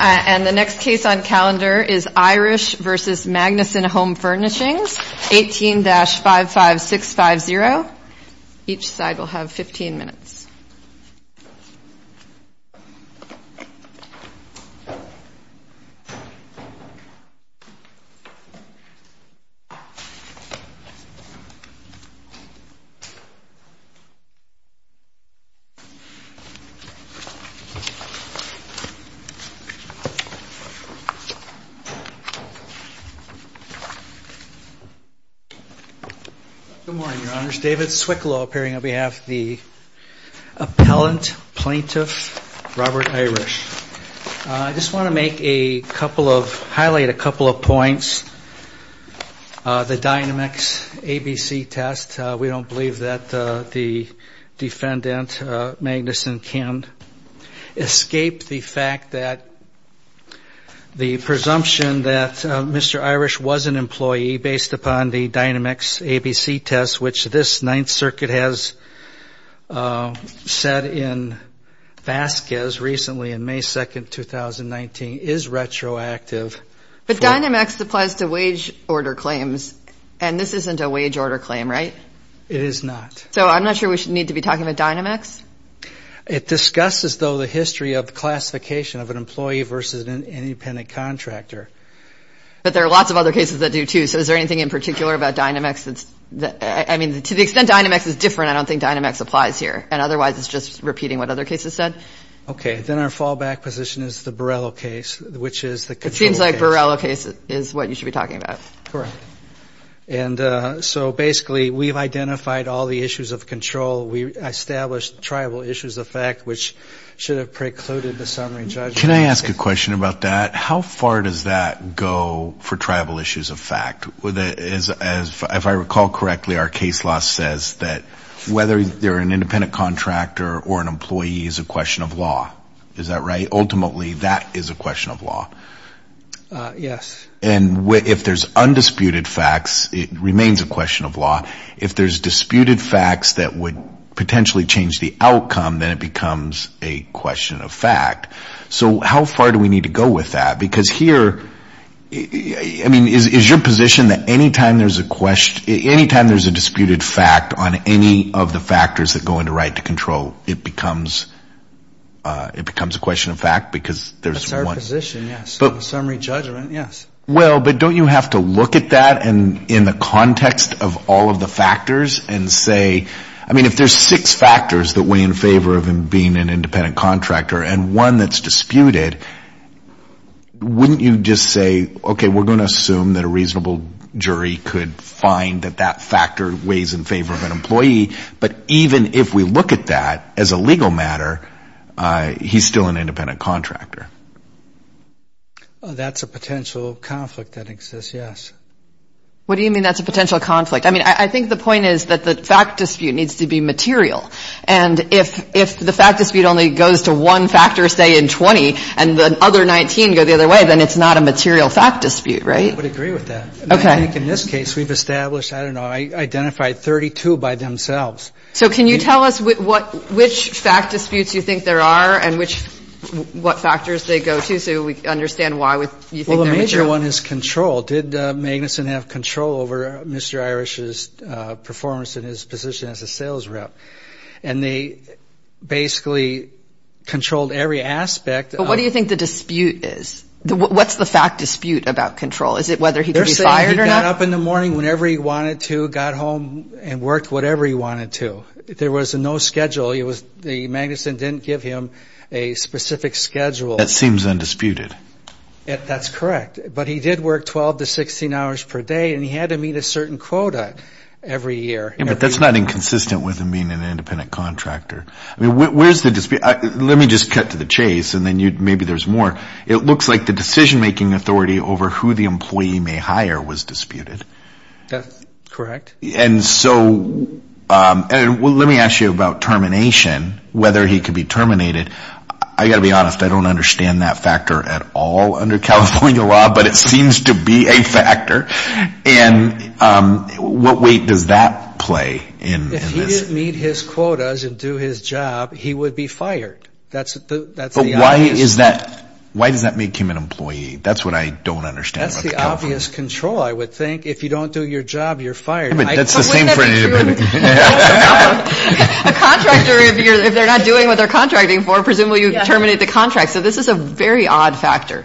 And the next case on calendar is Irish v. Magnussen Home Furnishings, 18-55650. Each side will have 15 minutes. Good morning, Your Honors. David Swicklaw appearing on behalf of the appellant plaintiff, Robert Irish. I just want to make a couple of, highlight a couple of points. The Dynamex ABC test, we don't believe that the defendant, Magnussen, can escape the fact that the presumption that Mr. Irish was an employee based upon the Dynamex ABC test, which this Ninth Circuit has said in Vasquez recently in May 2, 2019, is retroactive. But Dynamex applies to wage order claims, and this isn't a wage order claim, right? It is not. So I'm not sure we should need to be talking about Dynamex? It discusses, though, the history of classification of an employee versus an independent contractor. But there are lots of other cases that do, too. So is there anything in particular about Dynamex that's, I mean, to the extent Dynamex is different, I don't think Dynamex applies here. And otherwise, it's just repeating what other cases said. Okay. Then our fallback position is the Borrello case, which is the control case. It seems like Borrello case is what you should be talking about. Correct. And so basically, we've identified all the issues of control. We established tribal issues of fact, which should have precluded the summary judgment. Can I ask a question about that? How far does that go for tribal issues of fact? If I recall correctly, our case law says that whether you're an independent contractor or an employee is a question of law. Is that right? Ultimately, that is a question of law. Yes. And if there's undisputed facts, it remains a question of law. If there's disputed facts that would potentially change the outcome, then it becomes a question of fact. So how far do we need to go with that? Because here, I mean, is your position that any time there's a disputed fact on any of the factors that go into right to control, it becomes a question of fact? That's our position, yes. Summary judgment, yes. Well, but don't you have to look at that in the context of all of the factors and say, I mean, if there's six factors that weigh in favor of him being an independent contractor, and one that's disputed, wouldn't you just say, okay, we're going to assume that a reasonable jury could find that that factor weighs in favor of an employee. But even if we look at that as a legal matter, he's still an independent contractor. That's a potential conflict that exists, yes. What do you mean that's a potential conflict? I mean, I think the point is that the fact dispute needs to be material. And if the fact dispute only goes to one factor, say, in 20, and the other 19 go the other way, then it's not a material fact dispute, right? I would agree with that. Okay. I think in this case, we've established, I don't know, identified 32 by themselves. So can you tell us which fact disputes you think there are and what factors they go to, so we understand why you think they're material? Well, the major one is control. Did Magnuson have control over Mr. Irish's performance in his position as a sales rep? And they basically controlled every aspect. But what do you think the dispute is? What's the fact dispute about control? Is it whether he could be fired or not? They're saying he got up in the morning whenever he wanted to, got home, and worked whatever he wanted to. There was no schedule. The Magnuson didn't give him a specific schedule. That seems undisputed. That's correct. But he did work 12 to 16 hours per day, and he had to meet a certain quota every year. But that's not inconsistent with him being an independent contractor. I mean, where's the dispute? Let me just cut to the chase, and then maybe there's more. It looks like the decision-making authority over who the employee may hire was disputed. That's correct. And so let me ask you about termination, whether he could be terminated. I've got to be honest. I don't understand that factor at all under California law, but it seems to be a factor. And what weight does that play in this? If he didn't meet his quotas and do his job, he would be fired. But why does that make him an employee? That's what I don't understand about California. That's the obvious control, I would think. If you don't do your job, you're fired. A contractor, if they're not doing what they're contracting for, presumably you terminate the contract. So this is a very odd factor.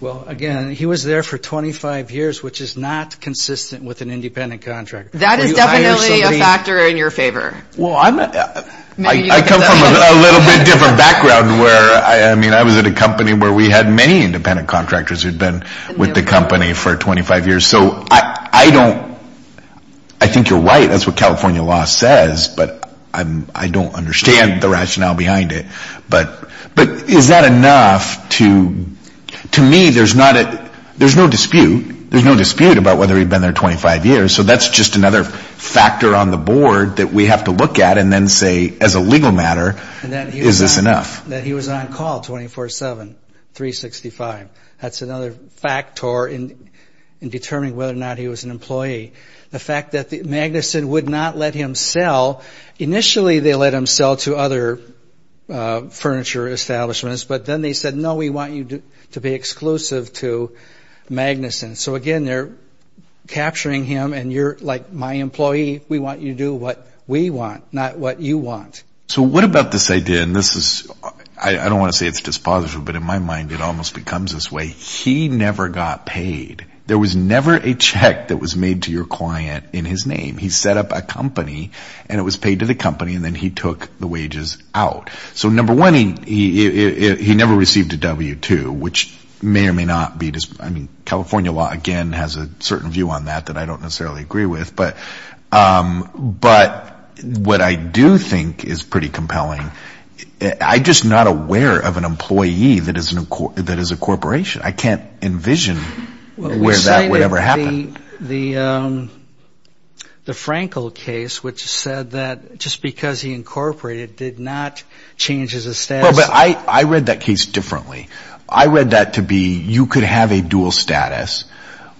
Well, again, he was there for 25 years, which is not consistent with an independent contractor. That is definitely a factor in your favor. Well, I come from a little bit different background. I mean, I was at a company where we had many independent contractors who'd been with the company for 25 years. So I don't – I think you're right. That's what California law says, but I don't understand the rationale behind it. But is that enough to – to me, there's not a – there's no dispute. There's no dispute about whether he'd been there 25 years. So that's just another factor on the board that we have to look at and then say, as a legal matter, is this enough? That he was on call 24-7, 365. That's another factor in determining whether or not he was an employee. The fact that Magnuson would not let him sell – initially they let him sell to other furniture establishments, but then they said, no, we want you to be exclusive to Magnuson. So, again, they're capturing him, and you're, like, my employee. We want you to do what we want, not what you want. So what about this idea – and this is – I don't want to say it's dispositive, but in my mind it almost becomes this way. He never got paid. There was never a check that was made to your client in his name. He set up a company, and it was paid to the company, and then he took the wages out. So, number one, he never received a W-2, which may or may not be – I mean, California law, again, has a certain view on that that I don't necessarily agree with. But what I do think is pretty compelling, I'm just not aware of an employee that is a corporation. I can't envision where that would ever happen. We cited the Frankel case, which said that just because he incorporated did not change his status. Well, but I read that case differently. I read that to be you could have a dual status,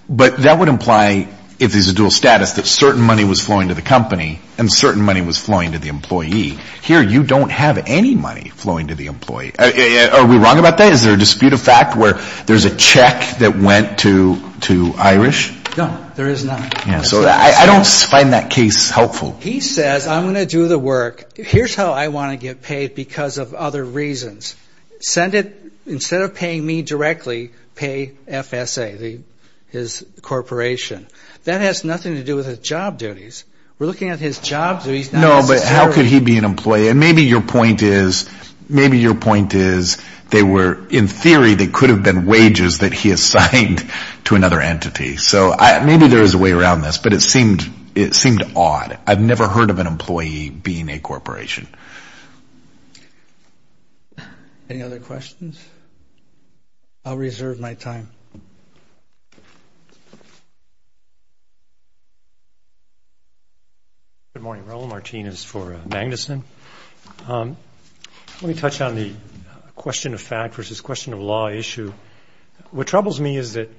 but that would imply, if there's a dual status, that certain money was flowing to the company and certain money was flowing to the employee. Here you don't have any money flowing to the employee. Are we wrong about that? Is there a dispute of fact where there's a check that went to Irish? No, there is not. So I don't find that case helpful. He says, I'm going to do the work. Here's how I want to get paid because of other reasons. Instead of paying me directly, pay FSA, his corporation. That has nothing to do with his job duties. We're looking at his job duties. No, but how could he be an employee? And maybe your point is they were, in theory, they could have been wages that he assigned to another entity. So maybe there is a way around this, but it seemed odd. I've never heard of an employee being a corporation. Any other questions? I'll reserve my time. Good morning, Raul. Martin is for Magnuson. Let me touch on the question of fact versus question of law issue. What troubles me is that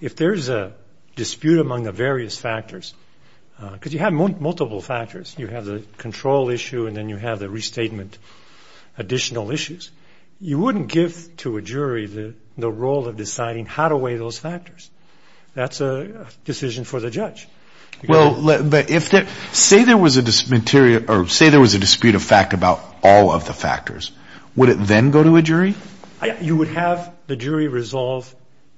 if there's a dispute among the various factors, because you have multiple factors. You have the control issue and then you have the restatement additional issues. You wouldn't give to a jury the role of deciding how to weigh those factors. That's a decision for the judge. Well, say there was a dispute of fact about all of the factors. Would it then go to a jury? You would have the jury resolve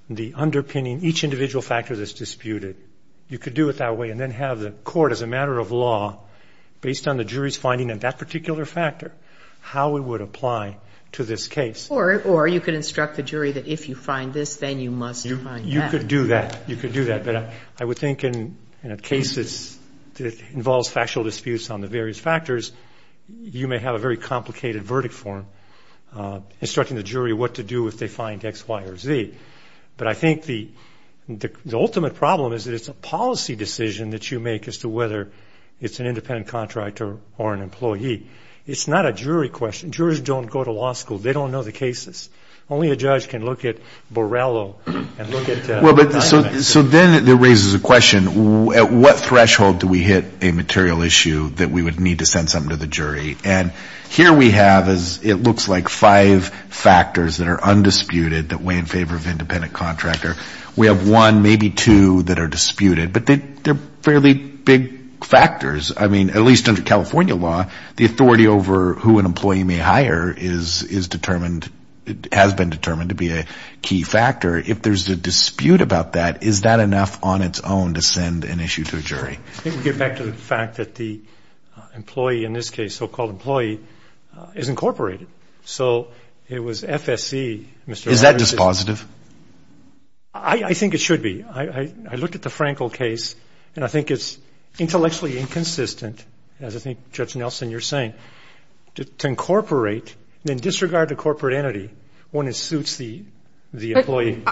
the underpinning, each individual factor that's disputed. You could do it that way and then have the court, as a matter of law, based on the jury's finding of that particular factor, how it would apply to this case. Or you could instruct the jury that if you find this, then you must find that. You could do that. But I would think in a case that involves factual disputes on the various factors, you may have a very complicated verdict form instructing the jury what to do if they find X, Y, or Z. But I think the ultimate problem is that it's a policy decision that you make as to whether it's an independent contractor or an employee. It's not a jury question. Jurors don't go to law school. They don't know the cases. Only a judge can look at Borrello and look at Dynamite. So then it raises a question, at what threshold do we hit a material issue that we would need to send something to the jury? And here we have, it looks like, five factors that are undisputed that weigh in favor of independent contractor. We have one, maybe two, that are disputed. But they're fairly big factors. I mean, at least under California law, the authority over who an employee may hire is determined, has been determined to be a key factor. If there's a dispute about that, is that enough on its own to send an issue to a jury? I think we get back to the fact that the employee, in this case, so-called employee, is incorporated. So it was FSC. Is that dispositive? I think it should be. I looked at the Frankel case, and I think it's intellectually inconsistent, as I think Judge Nelson, you're saying, to incorporate and disregard the corporate entity when it suits the employee.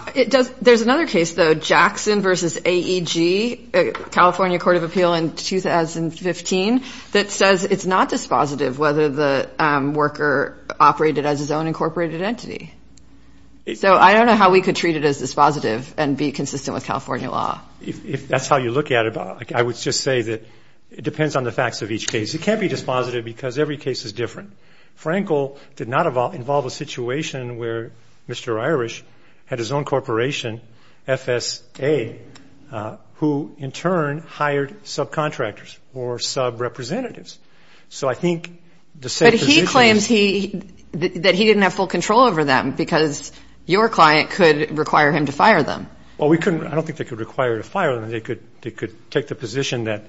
There's another case, though, Jackson v. AEG, California Court of Appeal in 2015, that says it's not dispositive whether the worker operated as his own incorporated entity. So I don't know how we could treat it as dispositive and be consistent with California law. If that's how you look at it, I would just say that it depends on the facts of each case. It can't be dispositive because every case is different. Frankel did not involve a situation where Mr. Irish had his own corporation, FSA, who, in turn, hired subcontractors or subrepresentatives. So I think the same position is. But he claims that he didn't have full control over them because your client could require him to fire them. Well, we couldn't. I don't think they could require him to fire them. They could take the position that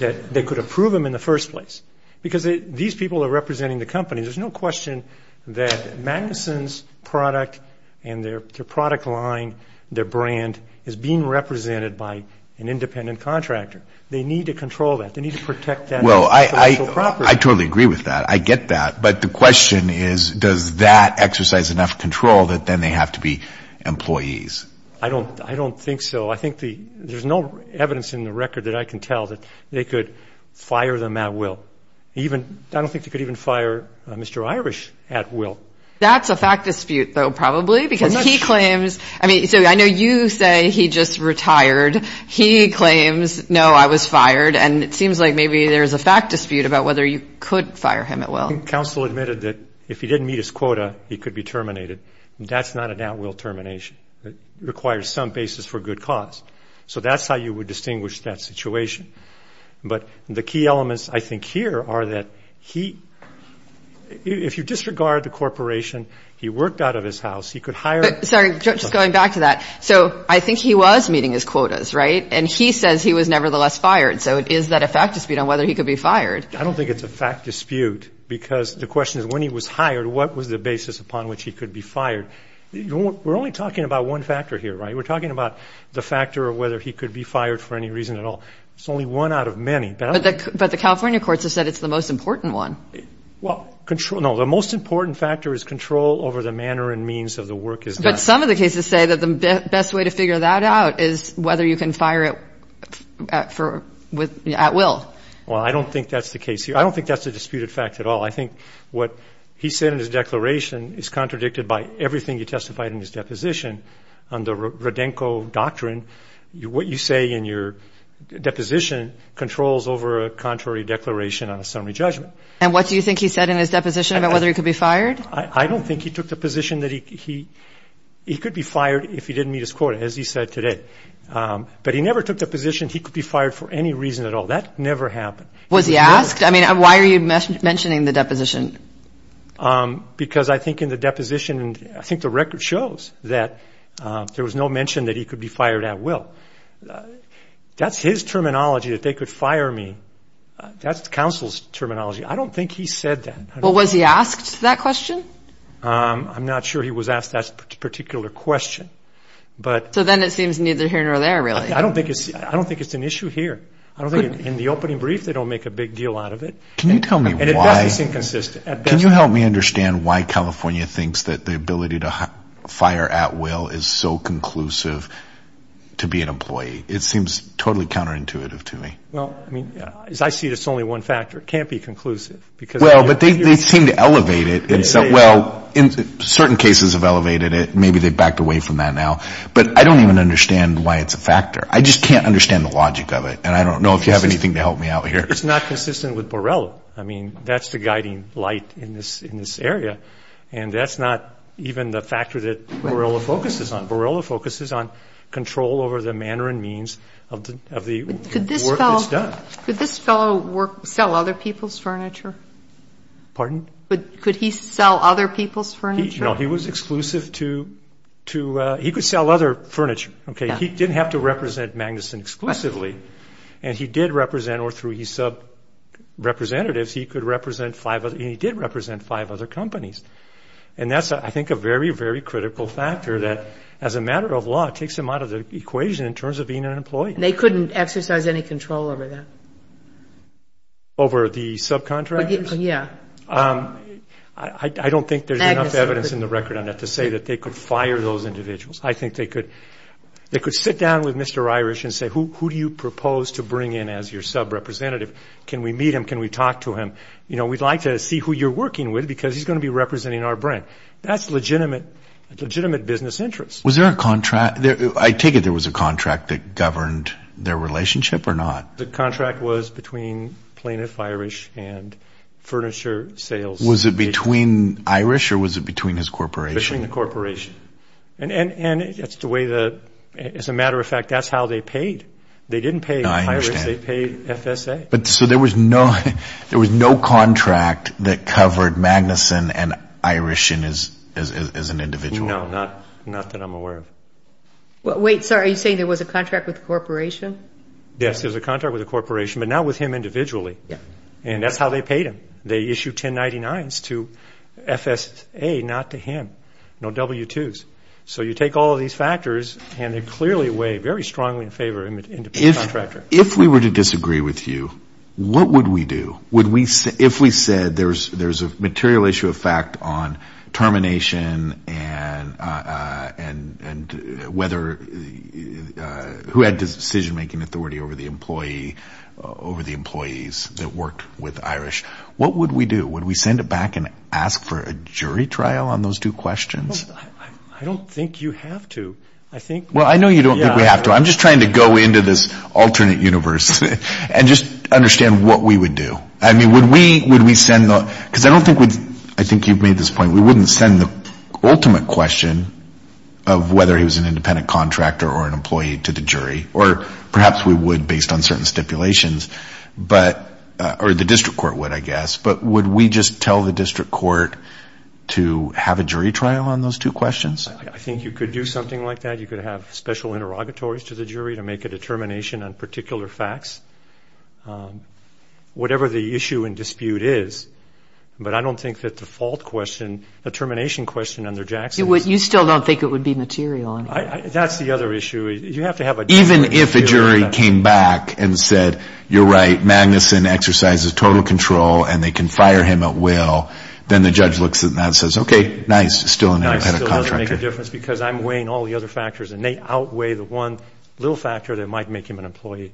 they could approve them in the first place because these people are representing the company. There's no question that Magnuson's product and their product line, their brand, is being represented by an independent contractor. They need to control that. They need to protect that intellectual property. Well, I totally agree with that. I get that. I don't think so. I think there's no evidence in the record that I can tell that they could fire them at will. I don't think they could even fire Mr. Irish at will. That's a fact dispute, though, probably, because he claims. I mean, so I know you say he just retired. He claims, no, I was fired. And it seems like maybe there's a fact dispute about whether you could fire him at will. Counsel admitted that if he didn't meet his quota, he could be terminated. That's not an at-will termination. It requires some basis for good cause. So that's how you would distinguish that situation. But the key elements, I think, here are that if you disregard the corporation, he worked out of his house, he could hire. Sorry, just going back to that. So I think he was meeting his quotas, right? And he says he was nevertheless fired. So is that a fact dispute on whether he could be fired? I don't think it's a fact dispute because the question is when he was hired, what was the basis upon which he could be fired? We're only talking about one factor here, right? We're talking about the factor of whether he could be fired for any reason at all. It's only one out of many. But the California courts have said it's the most important one. Well, no, the most important factor is control over the manner and means of the work is done. But some of the cases say that the best way to figure that out is whether you can fire it at will. Well, I don't think that's the case here. I don't think that's a disputed fact at all. I think what he said in his declaration is contradicted by everything he testified in his deposition on the Rodenko doctrine. What you say in your deposition controls over a contrary declaration on a summary judgment. And what do you think he said in his deposition about whether he could be fired? I don't think he took the position that he could be fired if he didn't meet his quota, as he said today. But he never took the position he could be fired for any reason at all. That never happened. Was he asked? I mean, why are you mentioning the deposition? Because I think in the deposition, I think the record shows that there was no mention that he could be fired at will. That's his terminology, that they could fire me. That's counsel's terminology. I don't think he said that. Well, was he asked that question? I'm not sure he was asked that particular question. So then it seems neither here nor there, really. I don't think it's an issue here. I don't think in the opening brief they don't make a big deal out of it. Can you tell me why? And at best it's inconsistent. Can you help me understand why California thinks that the ability to fire at will is so conclusive to be an employee? It seems totally counterintuitive to me. Well, I mean, as I see it, it's only one factor. It can't be conclusive. Well, but they seem to elevate it. Well, certain cases have elevated it. Maybe they've backed away from that now. But I don't even understand why it's a factor. I just can't understand the logic of it. And I don't know if you have anything to help me out here. It's not consistent with Borrello. I mean, that's the guiding light in this area. And that's not even the factor that Borrello focuses on. Borrello focuses on control over the manner and means of the work that's done. Could this fellow sell other people's furniture? Pardon? Could he sell other people's furniture? No, he was exclusive to he could sell other furniture. Okay, he didn't have to represent Magnuson exclusively. And he did represent, or through his sub-representatives, he could represent five other – he did represent five other companies. And that's, I think, a very, very critical factor that, as a matter of law, takes him out of the equation in terms of being an employee. They couldn't exercise any control over that? Over the subcontractors? Yeah. I don't think there's enough evidence in the record on that to say that they could fire those individuals. I think they could sit down with Mr. Irish and say, who do you propose to bring in as your sub-representative? Can we meet him? Can we talk to him? You know, we'd like to see who you're working with because he's going to be representing our brand. That's legitimate business interest. Was there a contract – I take it there was a contract that governed their relationship or not? The contract was between plaintiff Irish and furniture sales. Was it between Irish or was it between his corporation? Between the corporation. And as a matter of fact, that's how they paid. They didn't pay Irish, they paid FSA. So there was no contract that covered Magnuson and Irish as an individual? No, not that I'm aware of. Wait, sorry, are you saying there was a contract with the corporation? Yes, there was a contract with the corporation, but not with him individually. And that's how they paid him. They issued 1099s to FSA, not to him. No W-2s. So you take all of these factors and they clearly weigh very strongly in favor of an independent contractor. If we were to disagree with you, what would we do? If we said there's a material issue of fact on termination and whether – who had decision-making authority over the employees that worked with Irish, what would we do? Would we send it back and ask for a jury trial on those two questions? I don't think you have to. Well, I know you don't think we have to. I'm just trying to go into this alternate universe and just understand what we would do. I mean, would we send the – because I don't think we'd – I think you've made this point. We wouldn't send the ultimate question of whether he was an independent contractor or an employee to the jury, or perhaps we would based on certain stipulations, but – or the district court would, I guess. But would we just tell the district court to have a jury trial on those two questions? I think you could do something like that. You could have special interrogatories to the jury to make a determination on particular facts, whatever the issue and dispute is. But I don't think that the fault question, the termination question under Jackson is – You still don't think it would be material. That's the other issue. You have to have a – Even if a jury came back and said, you're right, Magnuson exercises total control and they can fire him at will, then the judge looks at that and says, okay, nice, still an independent contractor. Nice still doesn't make a difference because I'm weighing all the other factors, and they outweigh the one little factor that might make him an employee.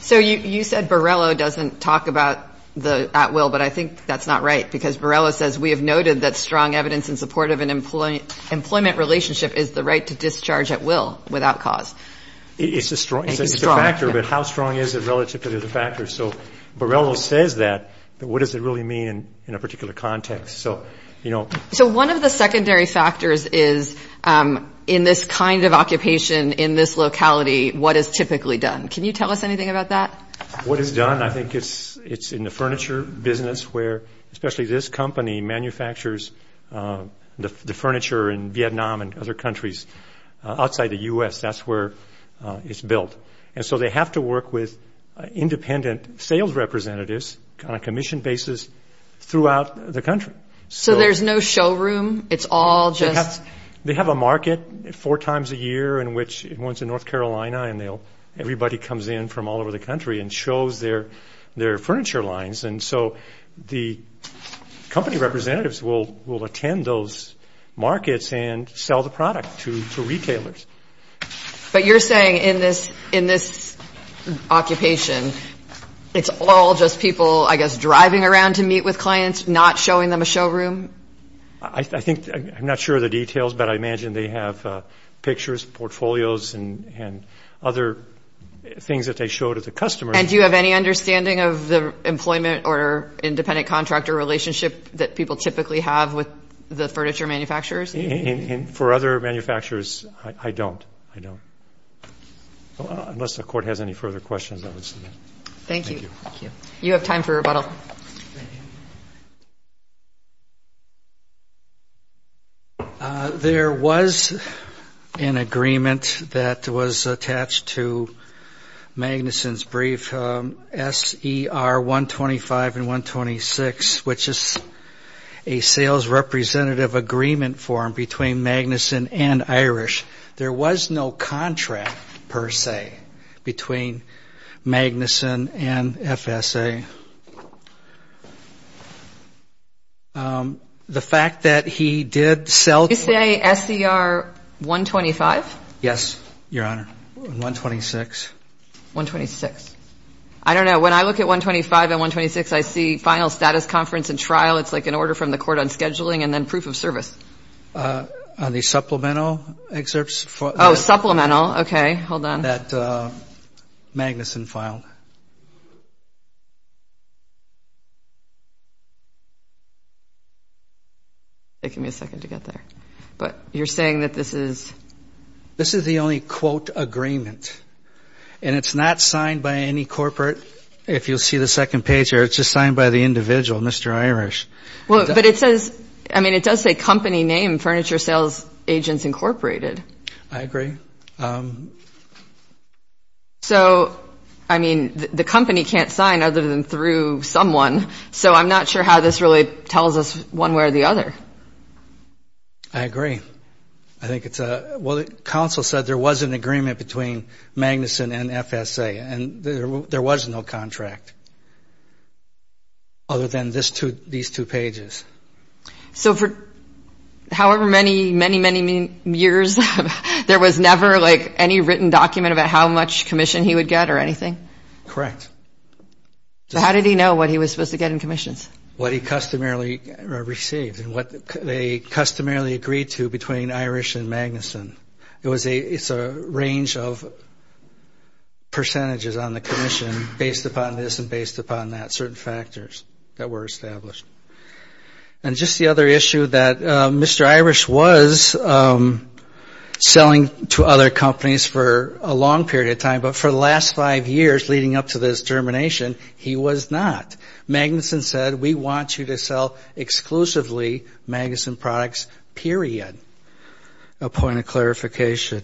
So you said Borrello doesn't talk about the at will, but I think that's not right, because Borrello says we have noted that strong evidence in support of an employment relationship is the right to discharge at will without cause. It's a factor, but how strong is it relative to the other factors? So Borrello says that, but what does it really mean in a particular context? So one of the secondary factors is in this kind of occupation, in this locality, what is typically done. Can you tell us anything about that? What is done, I think it's in the furniture business, where especially this company manufactures the furniture in Vietnam and other countries outside the U.S. That's where it's built. And so they have to work with independent sales representatives on a commission basis throughout the country. So there's no showroom? It's all just – They have a market four times a year in which one's in North Carolina and everybody comes in from all over the country and shows their furniture lines. And so the company representatives will attend those markets and sell the product to retailers. But you're saying in this occupation, it's all just people, I guess, driving around to meet with clients, not showing them a showroom? I think – I'm not sure of the details, but I imagine they have pictures, portfolios, and other things that they show to the customers. And do you have any understanding of the employment or independent contractor relationship that people typically have with the furniture manufacturers? For other manufacturers, I don't. I don't. Unless the Court has any further questions, I would submit. Thank you. You have time for rebuttal. Thank you. There was an agreement that was attached to Magnuson's brief, S.E.R. 125 and 126, which is a sales representative agreement form between Magnuson and Irish. There was no contract, per se, between Magnuson and FSA. The fact that he did sell to – Did you say S.E.R. 125? Yes, Your Honor, 126. 126. I don't know. When I look at 125 and 126, I see final status conference and trial. It's like an order from the Court on scheduling and then proof of service. On the supplemental excerpts? Oh, supplemental. Okay. Hold on. That Magnuson filed. It's taking me a second to get there. But you're saying that this is – This is the only, quote, agreement. And it's not signed by any corporate. If you'll see the second page here, it's just signed by the individual, Mr. Irish. But it says – I mean, it does say company name, Furniture Sales Agents Incorporated. I agree. So, I mean, the company can't sign other than through someone. So I'm not sure how this really tells us one way or the other. I agree. I think it's a – well, the counsel said there was an agreement between Magnuson and FSA, and there was no contract other than these two pages. So for however many, many, many years, there was never, like, any written document about how much commission he would get or anything? Correct. So how did he know what he was supposed to get in commissions? What he customarily received and what they customarily agreed to between Irish and Magnuson. It's a range of percentages on the commission based upon this and based upon that, certain factors that were established. And just the other issue that Mr. Irish was selling to other companies for a long period of time, but for the last five years leading up to this termination, he was not. Magnuson said, we want you to sell exclusively Magnuson products, period. A point of clarification.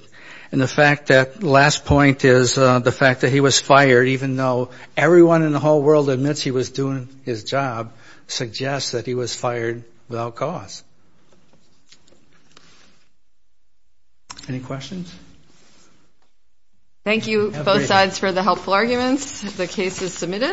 And the fact that – last point is the fact that he was fired, even though everyone in the whole world admits he was doing his job, suggests that he was fired without cause. Any questions? Thank you, both sides, for the helpful arguments. The case is submitted.